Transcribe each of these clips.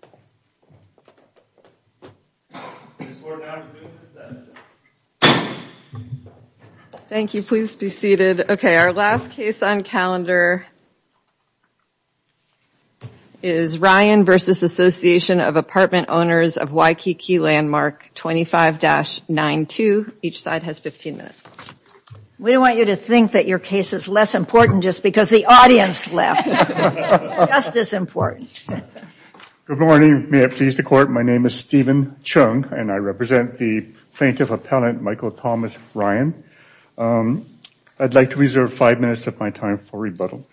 25-9-2. Each side has 15 minutes. We don't want you to think that your case is less important just because the audience left, it's just as important. Good morning. May it please the court, my name is Stephen Chung and I represent the Plaintiff Appellant Michael Thomas Ryan. I'd like to reserve five minutes of my time for rebuttal.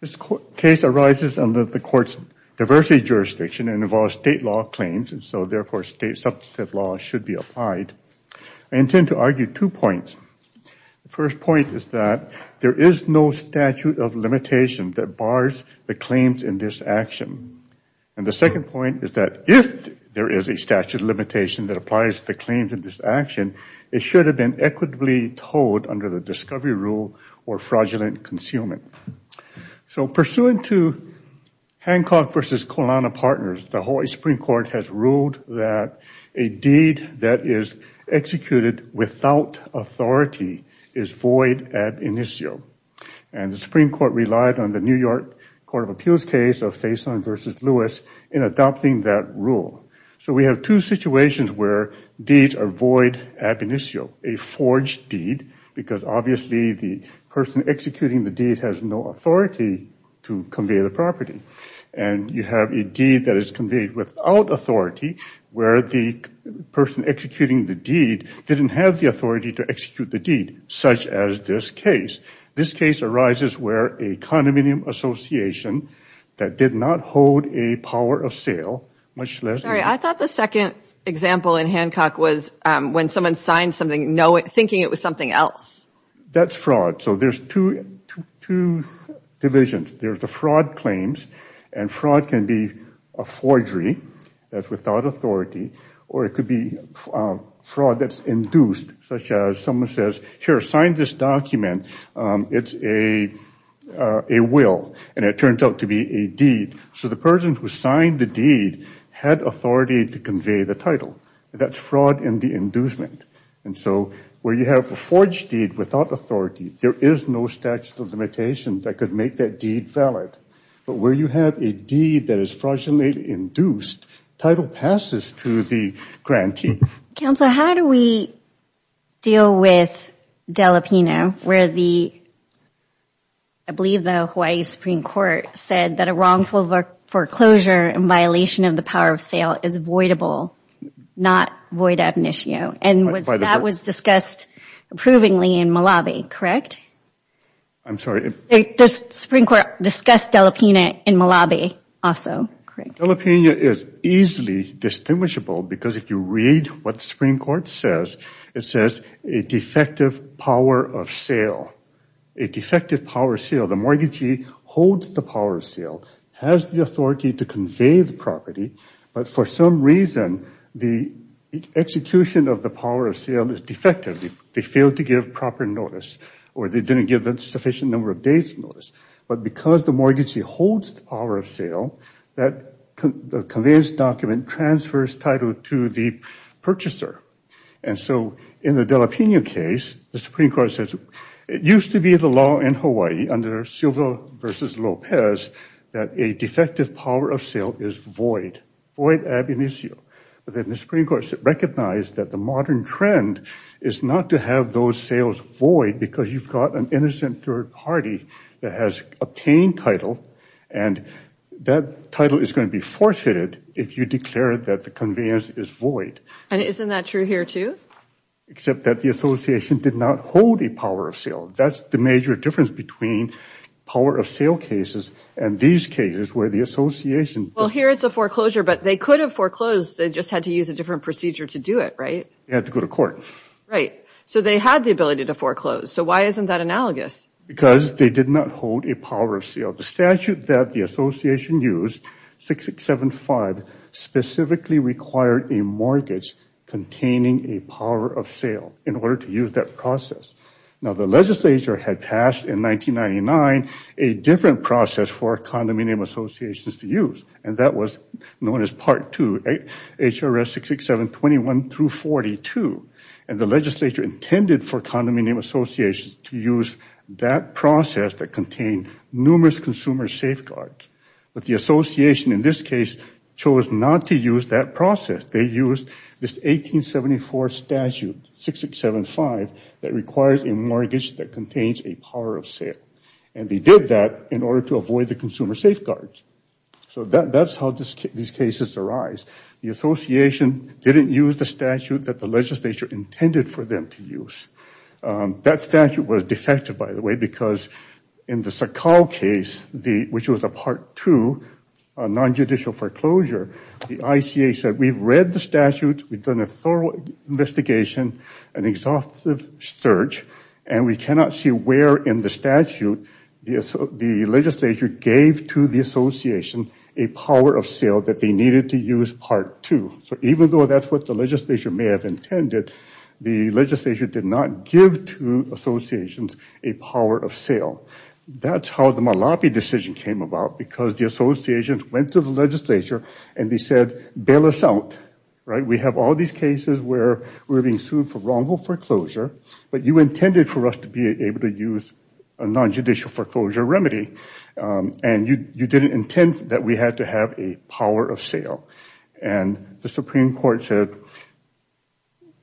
This case arises under the court's diversity jurisdiction and involves state law claims and so therefore state substantive law should be applied. I intend to argue two points. The first point is that there is no statute of limitation that bars the claims in this action. And the second point is that if there is a statute of limitation that applies the claims in this action, it should have been equitably told under the discovery rule or fraudulent concealment. So pursuant to Hancock v. Colana Partners, the Hawaii Supreme Court has ruled that a deed that is executed without authority is void ad initio. And the Supreme Court relied on the New York Court of Appeals case of Faison v. Lewis in adopting that rule. So we have two situations where deeds are void ad initio. A forged deed, because obviously the person executing the deed has no authority to convey the property. And you have a deed that is conveyed without authority where the person executing the deed didn't have the authority to execute the deed, such as this case. This case arises where a condominium association that did not hold a power of sale, much less... Sorry, I thought the second example in Hancock was when someone signed something thinking it was something else. That's fraud. So there's two divisions. There's the fraud claims, and fraud can be a forgery that's without authority. Or it could be fraud that's induced, such as someone says, here, sign this document. It's a will, and it turns out to be a deed. So the person who signed the deed had authority to convey the title. That's fraud in the inducement. And so where you have a forged deed without authority, there is no statute of limitations that could make that deed valid. But where you have a deed that is fraudulently induced, title passes to the grantee. Counsel, how do we deal with Dela Pino, where the, I believe the Hawaii Supreme Court said that a wrongful foreclosure in violation of the power of sale is voidable, not void ad initio. And that was discussed approvingly in Malawi, correct? I'm sorry? The Supreme Court discussed Dela Pino in Malawi also, correct? Dela Pino is easily distinguishable because if you read what the Supreme Court says, it says a defective power of sale. A defective power of sale, the mortgagee holds the power of sale, has the authority to convey the property, but for some reason, the execution of the power of sale is defective. They failed to give proper notice or they didn't give a sufficient number of days' notice. But because the mortgagee holds the power of sale, the conveyance document transfers title to the purchaser. And so in the Dela Pino case, the Supreme Court says it used to be the law in Hawaii under Silva v. Lopez that a defective power of sale is void, void ad initio. But then the Supreme Court recognized that the modern trend is not to have those sales void because you've got an innocent third party that has obtained title, and that title is going to be forfeited if you declare that the conveyance is void. And isn't that true here too? Except that the association did not hold a power of sale. That's the major difference between power of sale cases and these cases where the association... Well, here it's a foreclosure, but they could have foreclosed. They just had to use a different procedure to do it, right? They had to go to court. Right. So they had the ability to foreclose. So why isn't that analogous? Because they did not hold a power of sale. The statute that the association used, 6675, specifically required a mortgage containing a power of sale in order to use that process. Now the legislature had passed in 1999 a different process for condominium associations to use, and that was known as Part 2, HRS 66721-42. And the legislature intended for condominium associations to use that process that contained numerous consumer safeguards. But the association in this case chose not to use that process. They used this 1874 statute, 6675, that requires a mortgage that contains a power of sale. And they did that in order to avoid the consumer safeguards. So that's how these cases arise. The association didn't use the statute that the legislature intended for them to use. That statute was defective, by the way, because in the Sakow case, which was a Part 2 nonjudicial foreclosure, the ICA said we've read the statute, we've done a thorough investigation, an exhaustive search, and we cannot see where in the statute the legislature gave to the association a power of sale that they needed to use Part 2. So even though that's what the legislature may have intended, the legislature did not give to associations a power of sale. That's how the Malapi decision came about, because the associations went to the legislature and they said, bail us out. We have all these cases where we're being sued for wrongful foreclosure, but you intended for us to be able to use a nonjudicial foreclosure remedy, and you didn't intend that we had to have a power of sale. And the Supreme Court said,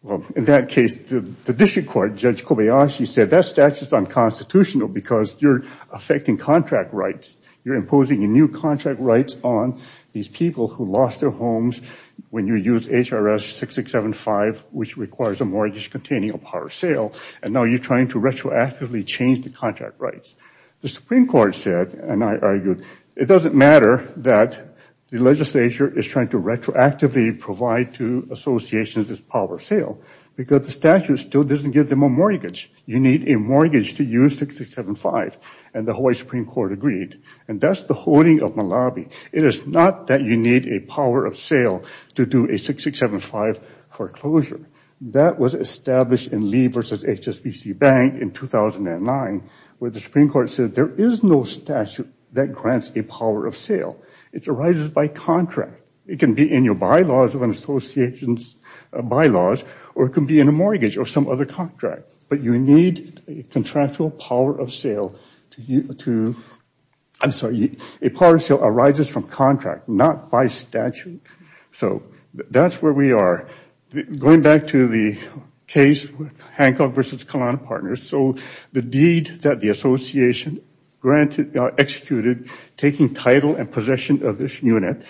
well, in that case, the district court, Judge Kobayashi, said that statute is unconstitutional because you're affecting contract rights. You're imposing new contract rights on these people who lost their homes when you use HRS 6675, which requires a mortgage containing a power of sale, and now you're trying to retroactively change the contract rights. The Supreme Court said, and I argued, it doesn't matter that the legislature is trying to retroactively provide to associations this power of sale, because the statute still doesn't give them a mortgage. You need a mortgage to use 6675, and the Hawaii Supreme Court agreed, and that's the holding of Malapi. It is not that you need a power of sale to do a 6675 foreclosure. That was established in Lee versus HSBC Bank in 2009, where the Supreme Court said there is no statute that grants a power of sale. It arises by contract. It can be in your bylaws of an association's bylaws, or it can be in a mortgage or some other contract, but you need a contractual power of sale to, I'm sorry, a power of sale arises from contract, not by statute. So that's where we are. Going back to the case with Hancock versus Kalana Partners, so the deed that the association executed, taking title and possession of this unit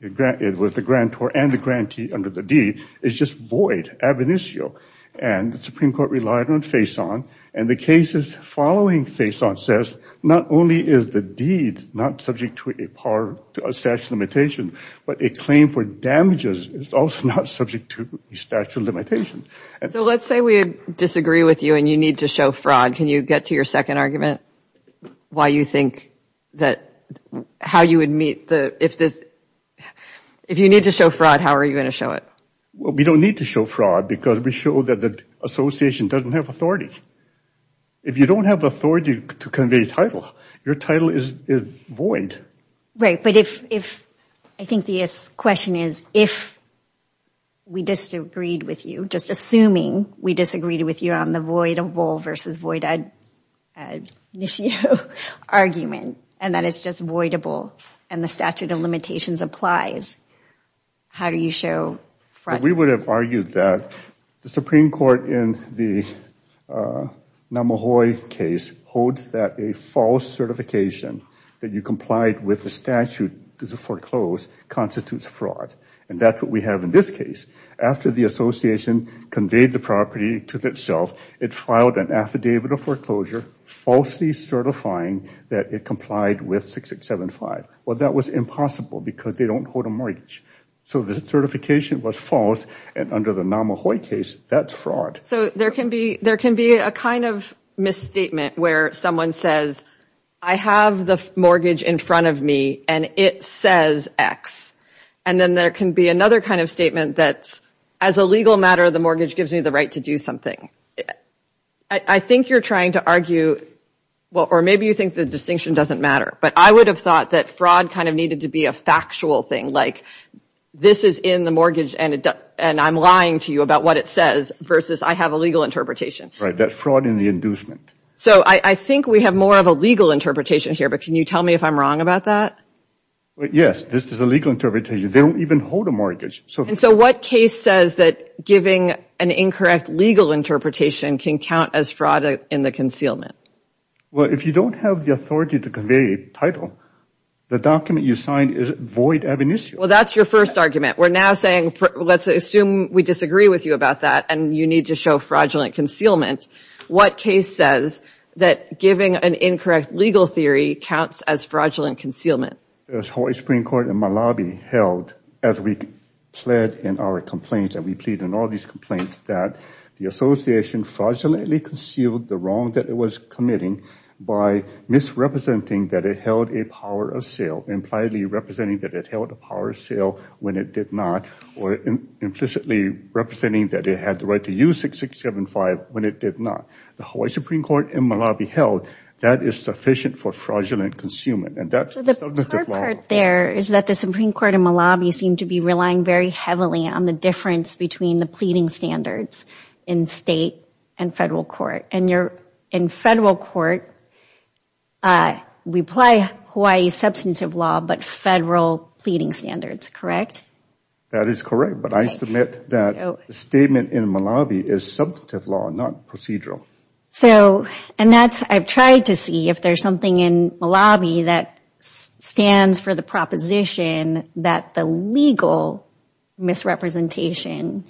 with the grantor and the grantee under the deed is just void, ab initio, and the Supreme Court relied on Faison, and the cases following Faison says not only is the deed not subject to a statute limitation, but a claim for damages is also not subject to a statute limitation. So let's say we disagree with you and you need to show fraud. Can you get to your second argument? Why you think that how you would meet the, if you need to show fraud, how are you going to show it? Well, we don't need to show fraud because we show that the association doesn't have authority. If you don't have authority to convey title, your title is void. Right, but if, I think the question is if we disagreed with you, just assuming we disagreed with you on the voidable versus void initio argument, and that it's just voidable and the statute of limitations applies, how do you show fraud? We would have argued that the Supreme Court in the Namahoy case holds that a false certification that you complied with the statute to foreclose constitutes fraud, and that's what we have in this case. After the association conveyed the property to itself, it filed an affidavit of foreclosure falsely certifying that it complied with 6675. Well, that was impossible because they don't hold a mortgage. So the certification was false, and under the Namahoy case, that's fraud. So there can be a kind of misstatement where someone says, I have the mortgage in front of me, and it says X. And then there can be another kind of statement that's, as a legal matter, the mortgage gives me the right to do something. I think you're trying to argue, or maybe you think the distinction doesn't matter, but I would have thought that fraud kind of needed to be a factual thing, like this is in the mortgage, and I'm lying to you about what it says, versus I have a legal interpretation. Right, that fraud in the inducement. So I think we have more of a legal interpretation here, but can you tell me if I'm wrong about that? Yes, this is a legal interpretation. They don't even hold a mortgage. And so what case says that giving an incorrect legal interpretation can count as fraud in the concealment? Well, if you don't have the authority to convey a title, the document you signed is void ab initio. Well, that's your first argument. We're now saying, let's assume we disagree with you about that, and you need to show fraudulent concealment. What case says that giving an incorrect legal theory counts as fraudulent concealment? The Hawaii Supreme Court in Malawi held, as we pled in our complaints, and we plead in all these complaints, that the association fraudulently concealed the wrong that it was committing by misrepresenting that it held a power of sale, impliedly representing that it held a power of sale when it did not, or implicitly representing that it had the right to use 6675 when it did not. The Hawaii Supreme Court in Malawi held that is sufficient for fraudulent concealment. So the hard part there is that the Supreme Court in Malawi seemed to be relying very heavily on the difference between the pleading standards in state and federal court. And in federal court, we apply Hawaii's substantive law, but federal pleading standards, correct? That is correct, but I submit that the statement in Malawi is substantive law, not procedural. So, and that's, I've tried to see if there's something in Malawi that stands for the proposition that the legal misrepresentation,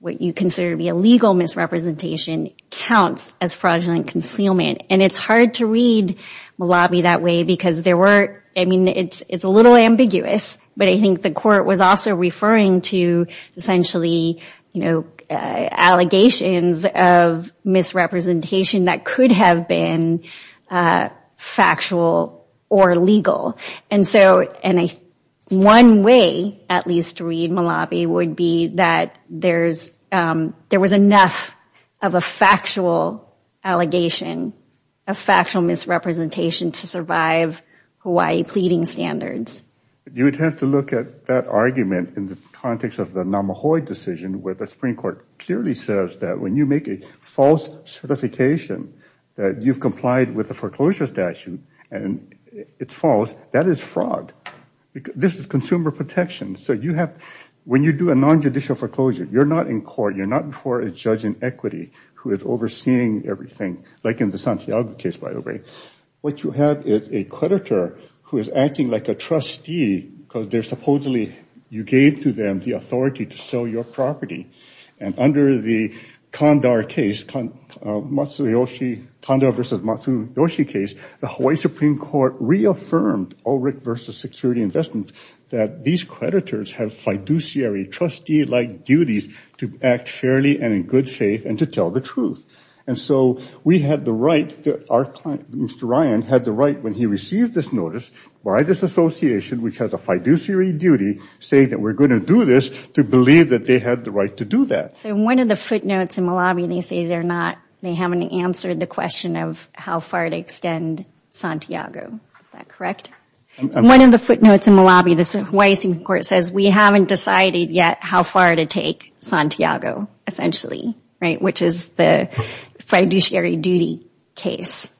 what you consider to be a legal misrepresentation, counts as fraudulent concealment. And it's hard to read Malawi that way because there were, I mean, it's a little ambiguous, but I think the court was also referring to essentially, you know, allegations of misrepresentation that could have been factual or legal. And so, one way at least to read Malawi would be that there was enough of a factual allegation, a factual misrepresentation to survive Hawaii pleading standards. You would have to look at that argument in the context of the Namahoe decision where the Supreme Court clearly says that when you make a false certification that you've complied with the foreclosure statute and it's false, that is fraud. This is consumer protection. So you have, when you do a nonjudicial foreclosure, you're not in court, you're not before a judge in equity who is overseeing everything, like in the Santiago case, by the way. What you have is a creditor who is acting like a trustee because they're supposedly, you gave to them the authority to sell your property. And under the Kandahar case, Matsuyoshi, Kandahar versus Matsuyoshi case, the Hawaii Supreme Court reaffirmed ORIC versus security investment that these creditors have fiduciary, trustee-like duties to act fairly and in good faith and to tell the truth. And so we had the right, Mr. Ryan had the right when he received this notice by this association which has a fiduciary duty saying that we're going to do this to believe that they had the right to do that. So one of the footnotes in Malawi, they say they're not, they haven't answered the question of how far to extend Santiago. Is that correct? One of the footnotes in Malawi, the Hawaii Supreme Court says we haven't decided yet how far to take Santiago essentially, right, which is the fiduciary duty case.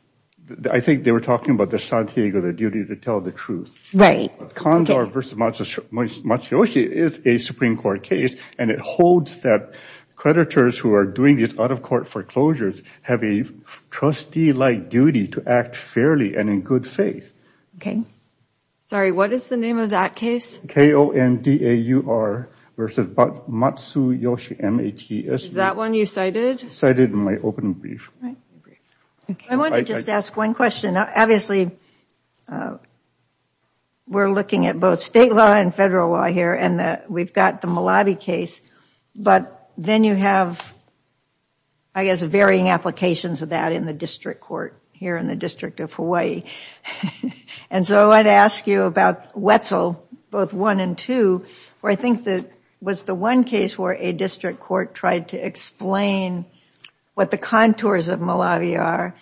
I think they were talking about the Santiago, the duty to tell the truth. Right. Kandahar versus Matsuyoshi is a Supreme Court case and it holds that creditors who are doing these out-of-court foreclosures have a trustee-like duty to act fairly and in good faith. Okay. Sorry, what is the name of that case? K-O-N-D-A-U-R versus Matsuyoshi, M-A-T-S-U-R. Is that one you cited? Cited in my open brief. I want to just ask one question. Obviously we're looking at both state law and federal law here and we've got the Malawi case, but then you have, I guess, varying applications of that in the district court here in the District of Hawaii. And so I'd ask you about Wetzel, both one and two, where I think that was the one case where a district court tried to explain what the contours of Malawi are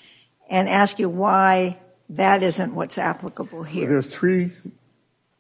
and ask you why that isn't what's applicable here. There are three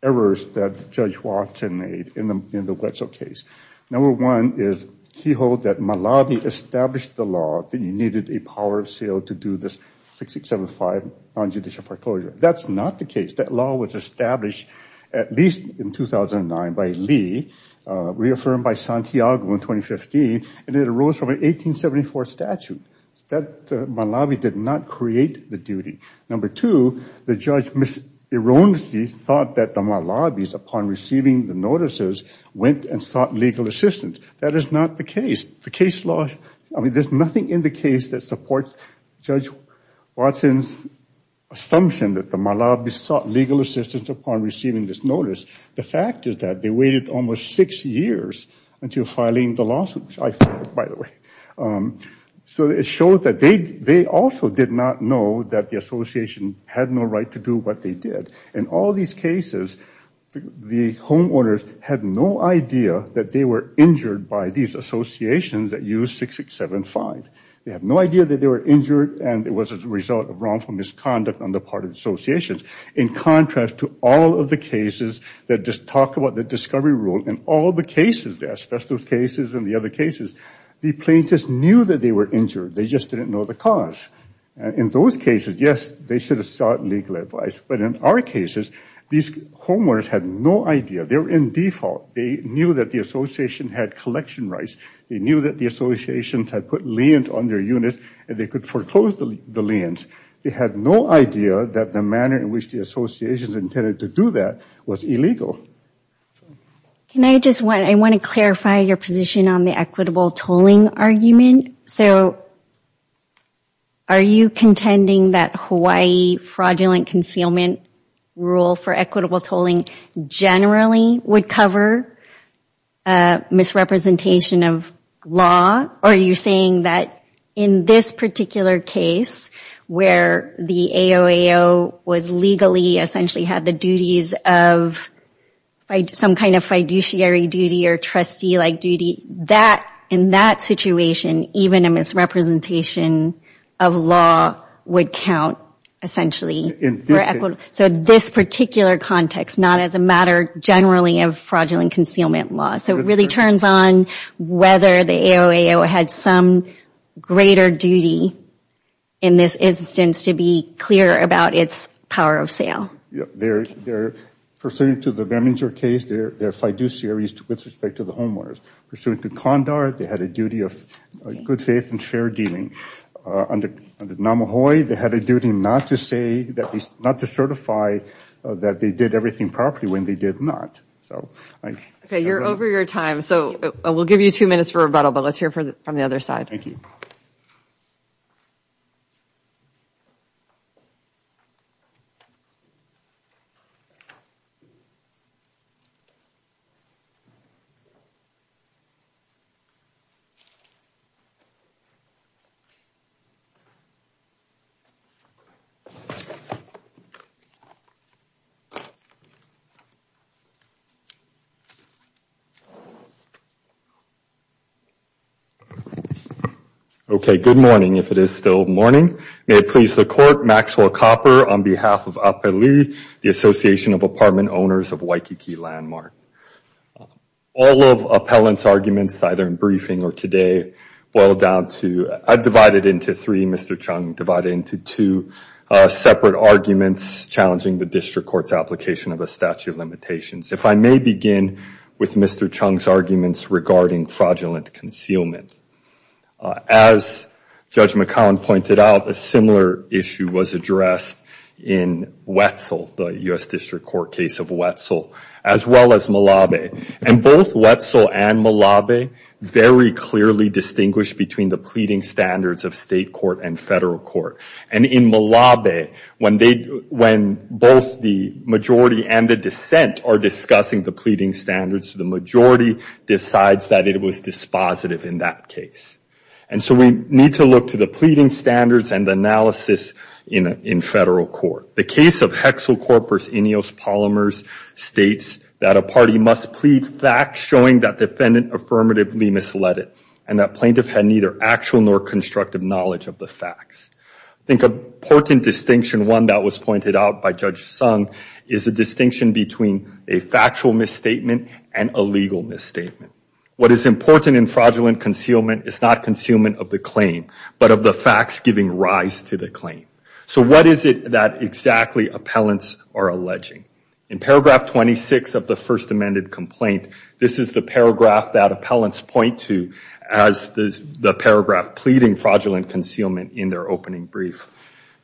errors that Judge Watson made in the Wetzel case. Number one is he held that Malawi established the law, that you needed a power of seal to do this 6-6-7-5 nonjudicial foreclosure. That's not the case. That law was established at least in 2009 by Lee, reaffirmed by Santiago in 2015, and it arose from an 1874 statute. Malawi did not create the duty. Number two, the Judge Ms. Ironski thought that the Malawis, upon receiving the notices, went and sought legal assistance. That is not the case. There's nothing in the case that supports Judge Watson's assumption that the Malawis sought legal assistance upon receiving this notice. The fact is that they waited almost six years until filing the lawsuit, which I filed, by the way. So it shows that they also did not know that the association had no right to do what they did. In all these cases, the homeowners had no idea that they were injured by these associations that used 6-6-7-5. They had no idea that they were injured, and it was a result of wrongful misconduct on the part of associations. In contrast to all of the cases that just talk about the discovery rule, in all the cases, the asbestos cases and the other cases, the plaintiffs knew that they were injured. They just didn't know the cause. In those cases, yes, they should have sought legal advice. But in our cases, these homeowners had no idea. They were in default. They knew that the association had collection rights. They knew that the associations had put liens on their units, and they could foreclose the liens. They had no idea that the manner in which the associations intended to do that was illegal. I want to clarify your position on the equitable tolling argument. So, are you contending that Hawaii fraudulent concealment rule for equitable tolling generally would cover misrepresentation of law? Are you saying that in this particular case, where the AOAO was legally, essentially had the duties of some kind of fiduciary duty or trustee-like duty, that in that situation, even a misrepresentation of law would count, essentially, for equitable? So, this particular context, not as a matter generally of fraudulent concealment law. So, it really turns on whether the AOAO had some greater duty in this instance to be clear about its power of sale. They're pursuant to the Beminger case, they're fiduciaries with respect to the homeowners. Pursuant to Condard, they had a duty of good faith and fair dealing. Under Namahoe, they had a duty not to certify that they did everything properly when they did not. Okay, you're over your time. So, we'll give you two minutes for rebuttal, but let's hear from the other side. Thank you. Okay, good morning, if it is still morning. May it please the Court, Maxwell Copper on behalf of APELI, the Association of Apartment Owners of Waikiki Landmark. All of Appellant's arguments, either in briefing or today, boil down to, I've divided into three, Mr. Chung, divided into two separate arguments challenging the District Court's application of a statute of limitations. If I may begin with Mr. Chung's arguments regarding fraudulent concealment. As Judge McCown pointed out, a similar issue was addressed in Wetzel, the U.S. District Court case of Wetzel, as well as Malabe. And both Wetzel and Malabe very clearly distinguished between the pleading standards of state court and federal court. And in Malabe, when both the majority and the dissent are discussing the pleading standards, the majority decides that it was dispositive in that case. And so we need to look to the pleading standards and analysis in federal court. The case of Hexel Corpus Ineos Polymers states that a party must plead facts showing that defendant affirmatively misled it, and that plaintiff had neither actual nor constructive knowledge of the facts. I think an important distinction, one that was pointed out by Judge Sung, is the distinction between a factual misstatement and a legal misstatement. What is important in fraudulent concealment is not concealment of the claim, but of the facts giving rise to the claim. So what is it that exactly appellants are alleging? In paragraph 26 of the first amended complaint, this is the paragraph that appellants point to as the paragraph pleading fraudulent concealment in their opening brief.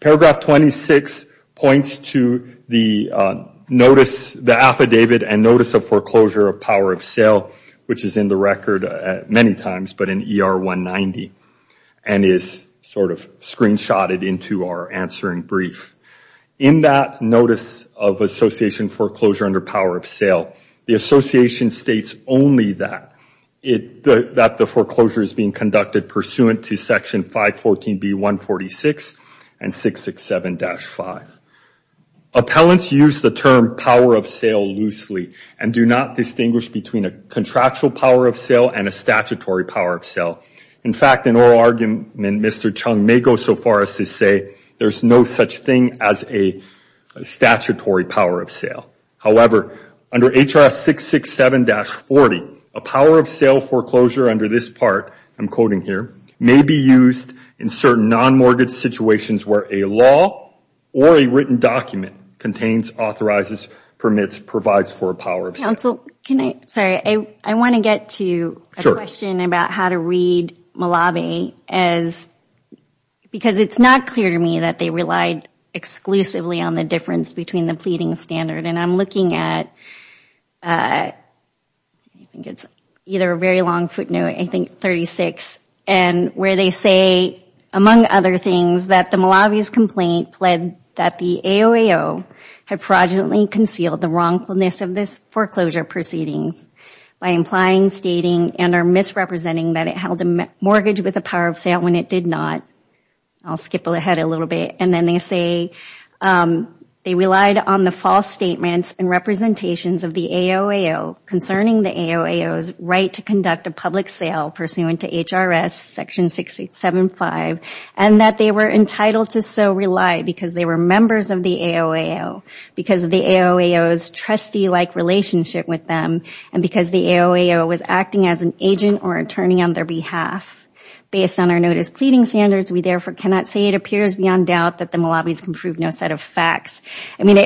Paragraph 26 points to the affidavit and notice of foreclosure of power of sale, which is in the record many times, but in ER 190, and is sort of screenshotted into our answering brief. In that notice of association foreclosure under power of sale, the association states only that the foreclosure is being conducted pursuant to section 514B146 and 667-5. Appellants use the term power of sale loosely and do not distinguish between a contractual power of sale and a statutory power of sale. In fact, in oral argument, Mr. Chung may go so far as to say there's no such thing as a statutory power of sale. However, under HR 667-40, a power of sale foreclosure under this part, I'm quoting here, may be used in certain non-mortgage situations where a law or a written document contains, authorizes, permits, provides for a power of sale. Counsel, can I, sorry, I want to get to a question about how to read Malabi because it's not clear to me that they relied exclusively on the difference between the pleading standard. And I'm looking at, I think it's either a very long footnote, I think 36, and where they say, among other things, that the Malabi's complaint pled that the AOAO had fraudulently concealed the wrongfulness of this foreclosure proceedings by implying, stating, and or misrepresenting that it held a mortgage with a power of sale when it did not. I'll skip ahead a little bit. And then they say they relied on the false statements and representations of the AOAO concerning the AOAO's right to conduct a public sale pursuant to HRS Section 6.875, and that they were entitled to so rely because they were members of the AOAO, because of the AOAO's trustee-like relationship with them, and because the AOAO was acting as an agent or attorney on their behalf. Based on our notice pleading standards, we therefore cannot say it appears beyond doubt that the Malabi's can prove no set of facts. I mean,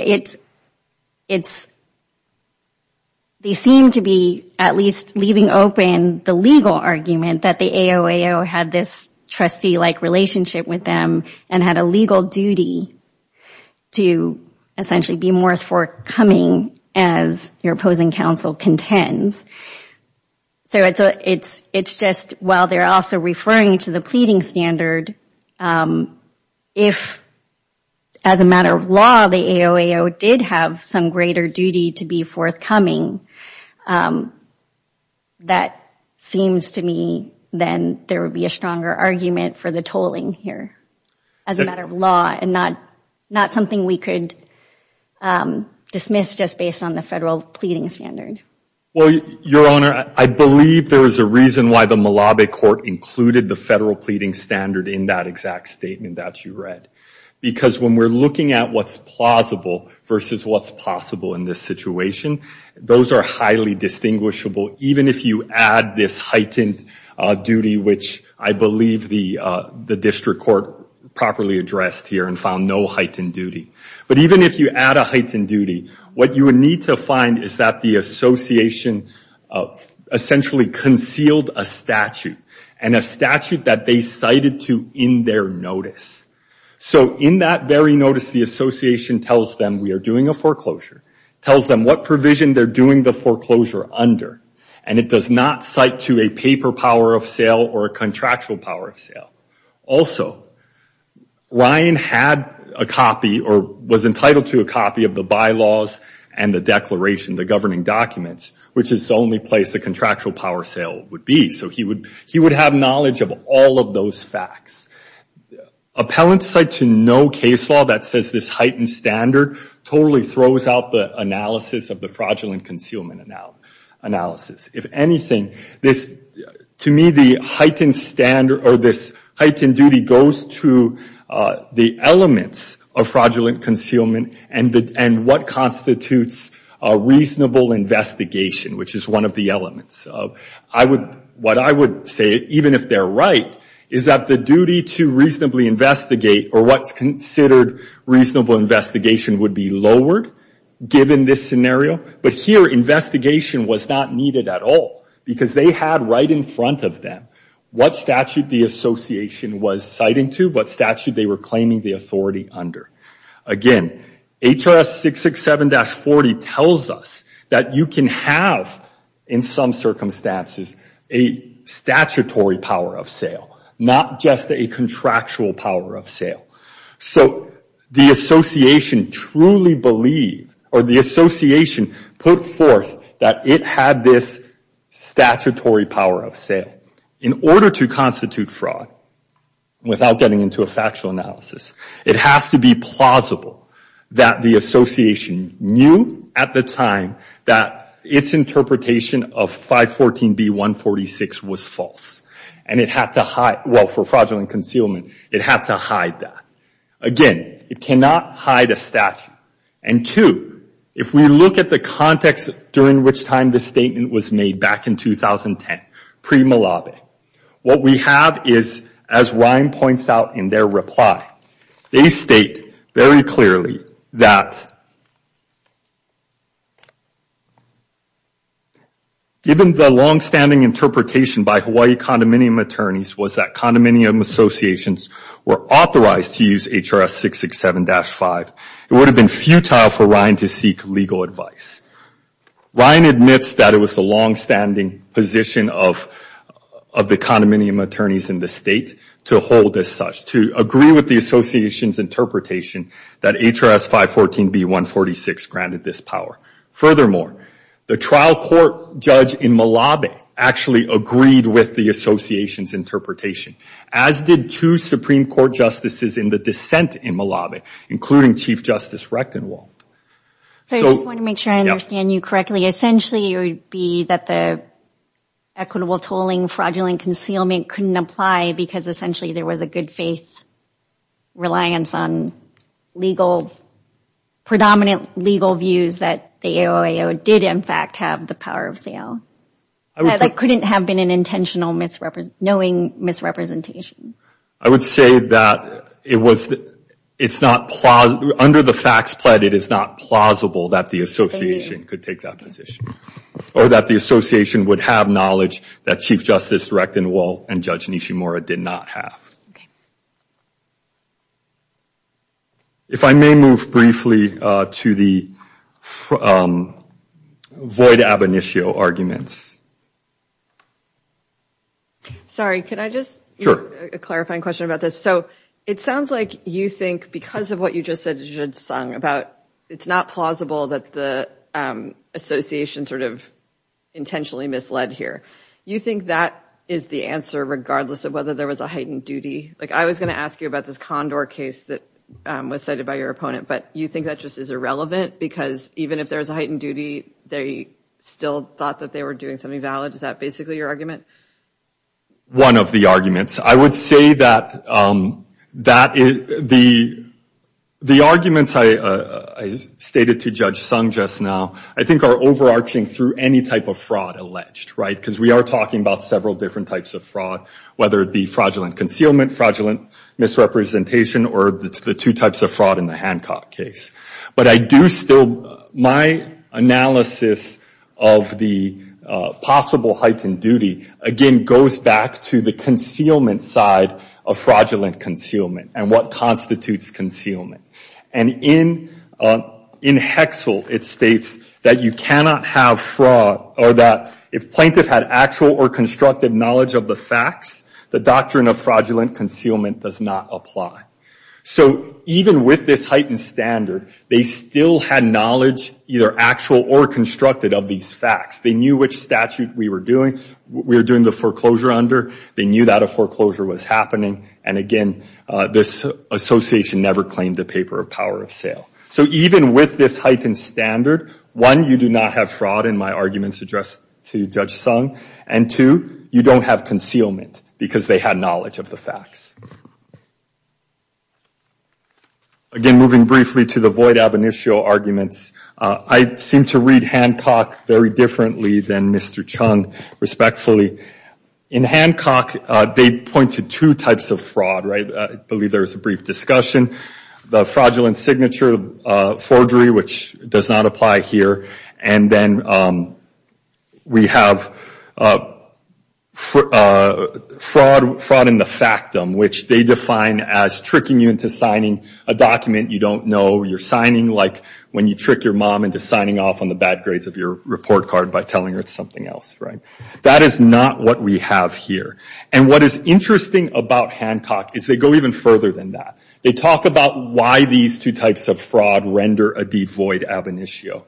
they seem to be at least leaving open the legal argument that the AOAO had this trustee-like relationship with them and had a legal duty to essentially be more forthcoming as your opposing counsel contends. So it's just while they're also referring to the pleading standard, if as a matter of law the AOAO did have some greater duty to be forthcoming, that seems to me then there would be a stronger argument for the tolling here as a matter of law and not something we could dismiss just based on the federal pleading standard. Well, Your Honor, I believe there is a reason why the Malabi court included the federal pleading standard in that exact statement that you read, because when we're looking at what's plausible versus what's possible in this situation, those are highly distinguishable, even if you add this heightened duty, which I believe the district court properly addressed here and found no heightened duty. But even if you add a heightened duty, what you would need to find is that the association essentially concealed a statute and a statute that they cited to in their notice. So in that very notice, the association tells them we are doing a foreclosure, tells them what provision they're doing the foreclosure under, and it does not cite to a paper power of sale or a contractual power of sale. Also, Ryan had a copy or was entitled to a copy of the bylaws and the declaration, the governing documents, which is the only place a contractual power of sale would be. So he would have knowledge of all of those facts. Appellants cite to no case law that says this heightened standard totally throws out the analysis of the fraudulent concealment analysis. If anything, to me, this heightened standard or this heightened duty goes to the elements of fraudulent concealment and what constitutes a reasonable investigation, which is one of the elements. What I would say, even if they're right, is that the duty to reasonably investigate or what's considered reasonable investigation would be lowered given this scenario. But here, investigation was not needed at all, because they had right in front of them what statute the association was citing to, what statute they were claiming the authority under. Again, HRS 667-40 tells us that you can have, in some circumstances, a statutory power of sale, not just a contractual power of sale. So the association truly believed or the association put forth that it had this statutory power of sale. Again, in order to constitute fraud, without getting into a factual analysis, it has to be plausible that the association knew at the time that its interpretation of 514B-146 was false. And it had to hide, well, for fraudulent concealment, it had to hide that. Again, it cannot hide a statute. And two, if we look at the context during which time this statement was made, back in 2010, pre-Malabe, what we have is, as Ryan points out in their reply, they state very clearly that given the longstanding interpretation by Hawaii condominium attorneys was that condominium associations were authorized to use HRS 667-5, it would have been futile for Ryan to seek legal advice. Ryan admits that it was the longstanding position of the condominium attorneys in the state to hold as such, to agree with the association's interpretation that HRS 514B-146 granted this power. Furthermore, the trial court judge in Malabe actually agreed with the association's interpretation, as did two Supreme Court justices in the dissent in Malabe, including Chief Justice Recktenwald. So I just want to make sure I understand you correctly. Essentially, it would be that the equitable tolling, fraudulent concealment couldn't apply because essentially there was a good faith reliance on legal, predominant legal views that the AOAO did in fact have the power of sale. That couldn't have been an intentional knowing misrepresentation. I would say that it's not, under the facts pled, it is not plausible that the association could take that position, or that the association would have knowledge that Chief Justice Recktenwald and Judge Nishimura did not have. If I may move briefly to the void ab initio arguments. Sorry, can I just, a clarifying question about this. So it sounds like you think because of what you just said, it's not plausible that the association sort of intentionally misled here. You think that is the answer regardless of whether there was a heightened duty? Like I was going to ask you about this Condor case that was cited by your opponent, but you think that just is irrelevant? Because even if there was a heightened duty, they still thought that they were doing something valid? Is that basically your argument? One of the arguments. I would say that the arguments I stated to Judge Sung just now, I think are overarching through any type of fraud alleged, right? Because we are talking about several different types of fraud, whether it be fraudulent concealment, fraudulent misrepresentation, or the two types of fraud in the Hancock case. But I do still, my analysis of the possible heightened duty, again, goes back to the concealment side of fraudulent concealment and what constitutes concealment. And in Hexel, it states that you cannot have fraud, or that if plaintiff had actual or constructive knowledge of the facts, the doctrine of fraudulent concealment does not apply. So even with this heightened standard, they still had knowledge either actual or constructed of these facts. They knew which statute we were doing the foreclosure under. They knew that a foreclosure was happening. And again, this association never claimed the paper of power of sale. So even with this heightened standard, one, you do not have fraud, in my arguments addressed to Judge Sung. And two, you don't have concealment, because they had knowledge of the facts. Again, moving briefly to the void ab initio arguments, I seem to read Hancock very differently than Mr. Chung, respectfully. In Hancock, they point to two types of fraud, right? I believe there was a brief discussion. The fraudulent signature forgery, which does not apply here. And then we have fraud in the factum, which they define as tricking you into signing a document you don't know you're signing, like when you trick your mom into signing off on the bad grades of your report card by telling her it's something else, right? That is not what we have here. And what is interesting about Hancock is they go even further than that. They talk about why these two types of fraud render a devoid ab initio.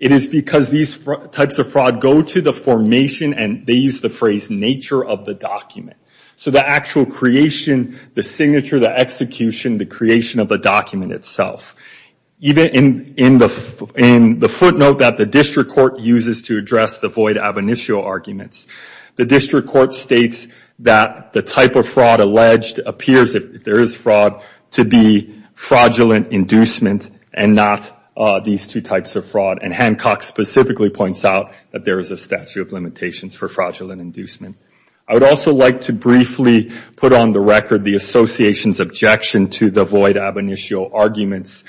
It is because these types of fraud go to the formation, and they use the phrase, nature of the document. So the actual creation, the signature, the execution, the creation of the document itself. Even in the footnote that the district court uses to address the void ab initio arguments, the district court states that the type of fraud alleged appears, if there is fraud, to be fraudulent inducement and not these two types of fraud. And Hancock specifically points out that there is a statute of limitations for fraudulent inducement. I would also like to briefly put on the record the association's objection to the void ab initio arguments.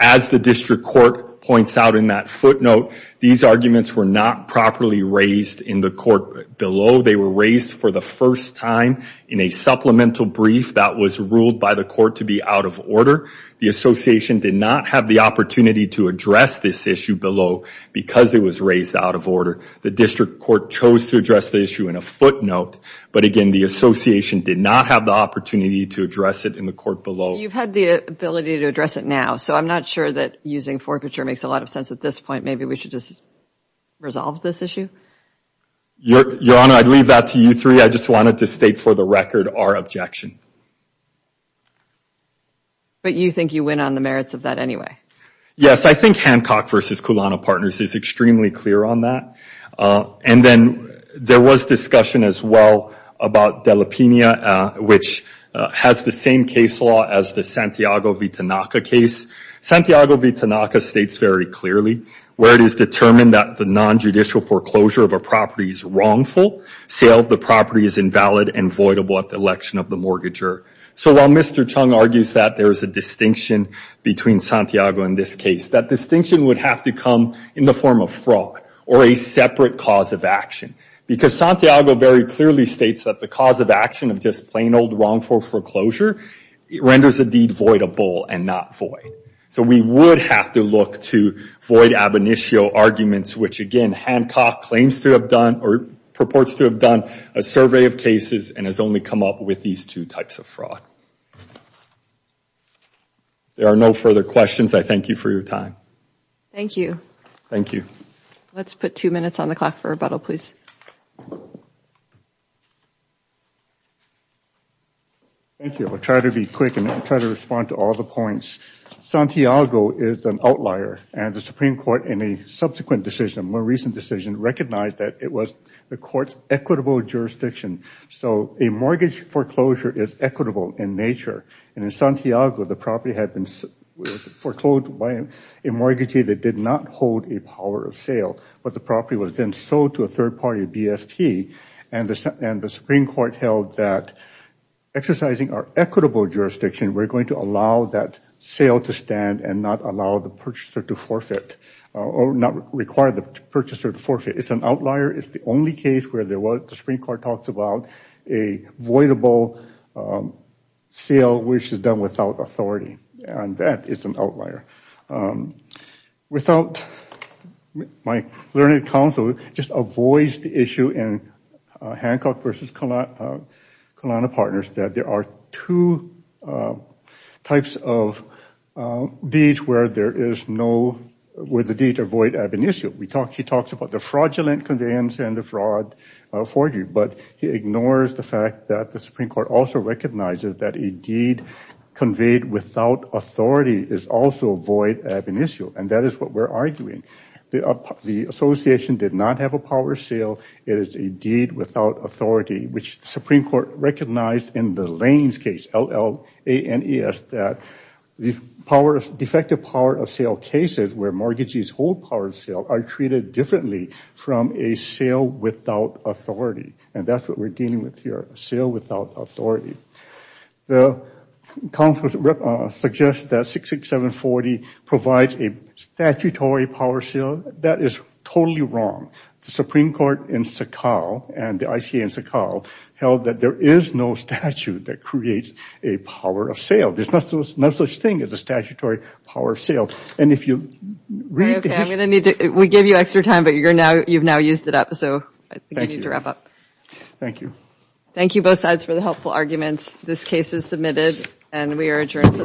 As the district court points out in that footnote, these arguments were not properly raised in the court below. They were raised for the first time in a supplemental brief that was ruled by the court to be out of order. The association did not have the opportunity to address this issue below because it was raised out of order. The district court chose to address the issue in a footnote, but again the association did not have the opportunity to address it in the court below. You've had the ability to address it now, so I'm not sure that using forfeiture makes a lot of sense at this point. Maybe we should just resolve this issue? Your Honor, I'd leave that to you three. I just wanted to state for the record our objection. But you think you win on the merits of that anyway? Yes, I think Hancock v. Kulana Partners is extremely clear on that. And then there was discussion as well about Dela Pena, which has the same case law as the Santiago V. Tanaka case. Santiago V. Tanaka states very clearly, where it is determined that the nonjudicial foreclosure of a property is wrongful, sale of the property is invalid and voidable at the election of the mortgager. So while Mr. Chung argues that there is a distinction between Santiago and this case, that distinction would have to come in the form of fraud or a separate cause of action. Because Santiago very clearly states that the cause of action of just plain old wrongful foreclosure renders the deed voidable and not void. So we would have to look to void ab initio arguments, which again Hancock claims to have done or purports to have done a survey of cases and has only come up with these two types of fraud. There are no further questions. I thank you for your time. Thank you. Thank you. Let's put two minutes on the clock for rebuttal, please. Thank you. I'll try to be quick and try to respond to all the points. Santiago is an outlier and the Supreme Court in a subsequent decision, a more recent decision, recognized that it was the court's equitable jurisdiction. So a mortgage foreclosure is equitable in nature. And in Santiago, the property had been foreclosed by a mortgagee that did not hold a power of sale, but the property was then sold to a third-party company. And the Supreme Court held that exercising our equitable jurisdiction, we're going to allow that sale to stand and not allow the purchaser to forfeit or not require the purchaser to forfeit. It's an outlier. It's the only case where the Supreme Court talks about a voidable sale, which is done without authority. And that is an outlier. Without my learned counsel just avoids the issue in Hancock versus Colana Partners that there are two types of deeds where there is no, where the deeds are void ab initio. He talks about the fraudulent conveyance and the fraud forgery, but he ignores the fact that the Supreme Court also recognizes that a deed conveyed without authority is also void ab initio, and that is what we're arguing. The association did not have a power of sale. It is a deed without authority, which the Supreme Court recognized in the Lanes case, L-L-A-N-E-S, that these powers, defective power of sale cases where mortgages hold power of sale are treated differently from a sale without authority. And that's what we're dealing with here, a sale without authority. The counsel suggests that 66740 provides a statutory power sale. That is totally wrong. The Supreme Court in Sakhal and the ICA in Sakhal held that there is no statute that creates a power of sale. There's no such thing as a statutory power of sale. And if you read the history. Okay, I'm going to need to, we gave you extra time, but you've now used it up, so I think you need to wrap up. Thank you. Thank you both sides for the helpful arguments. This case is submitted, and we are adjourned for the day.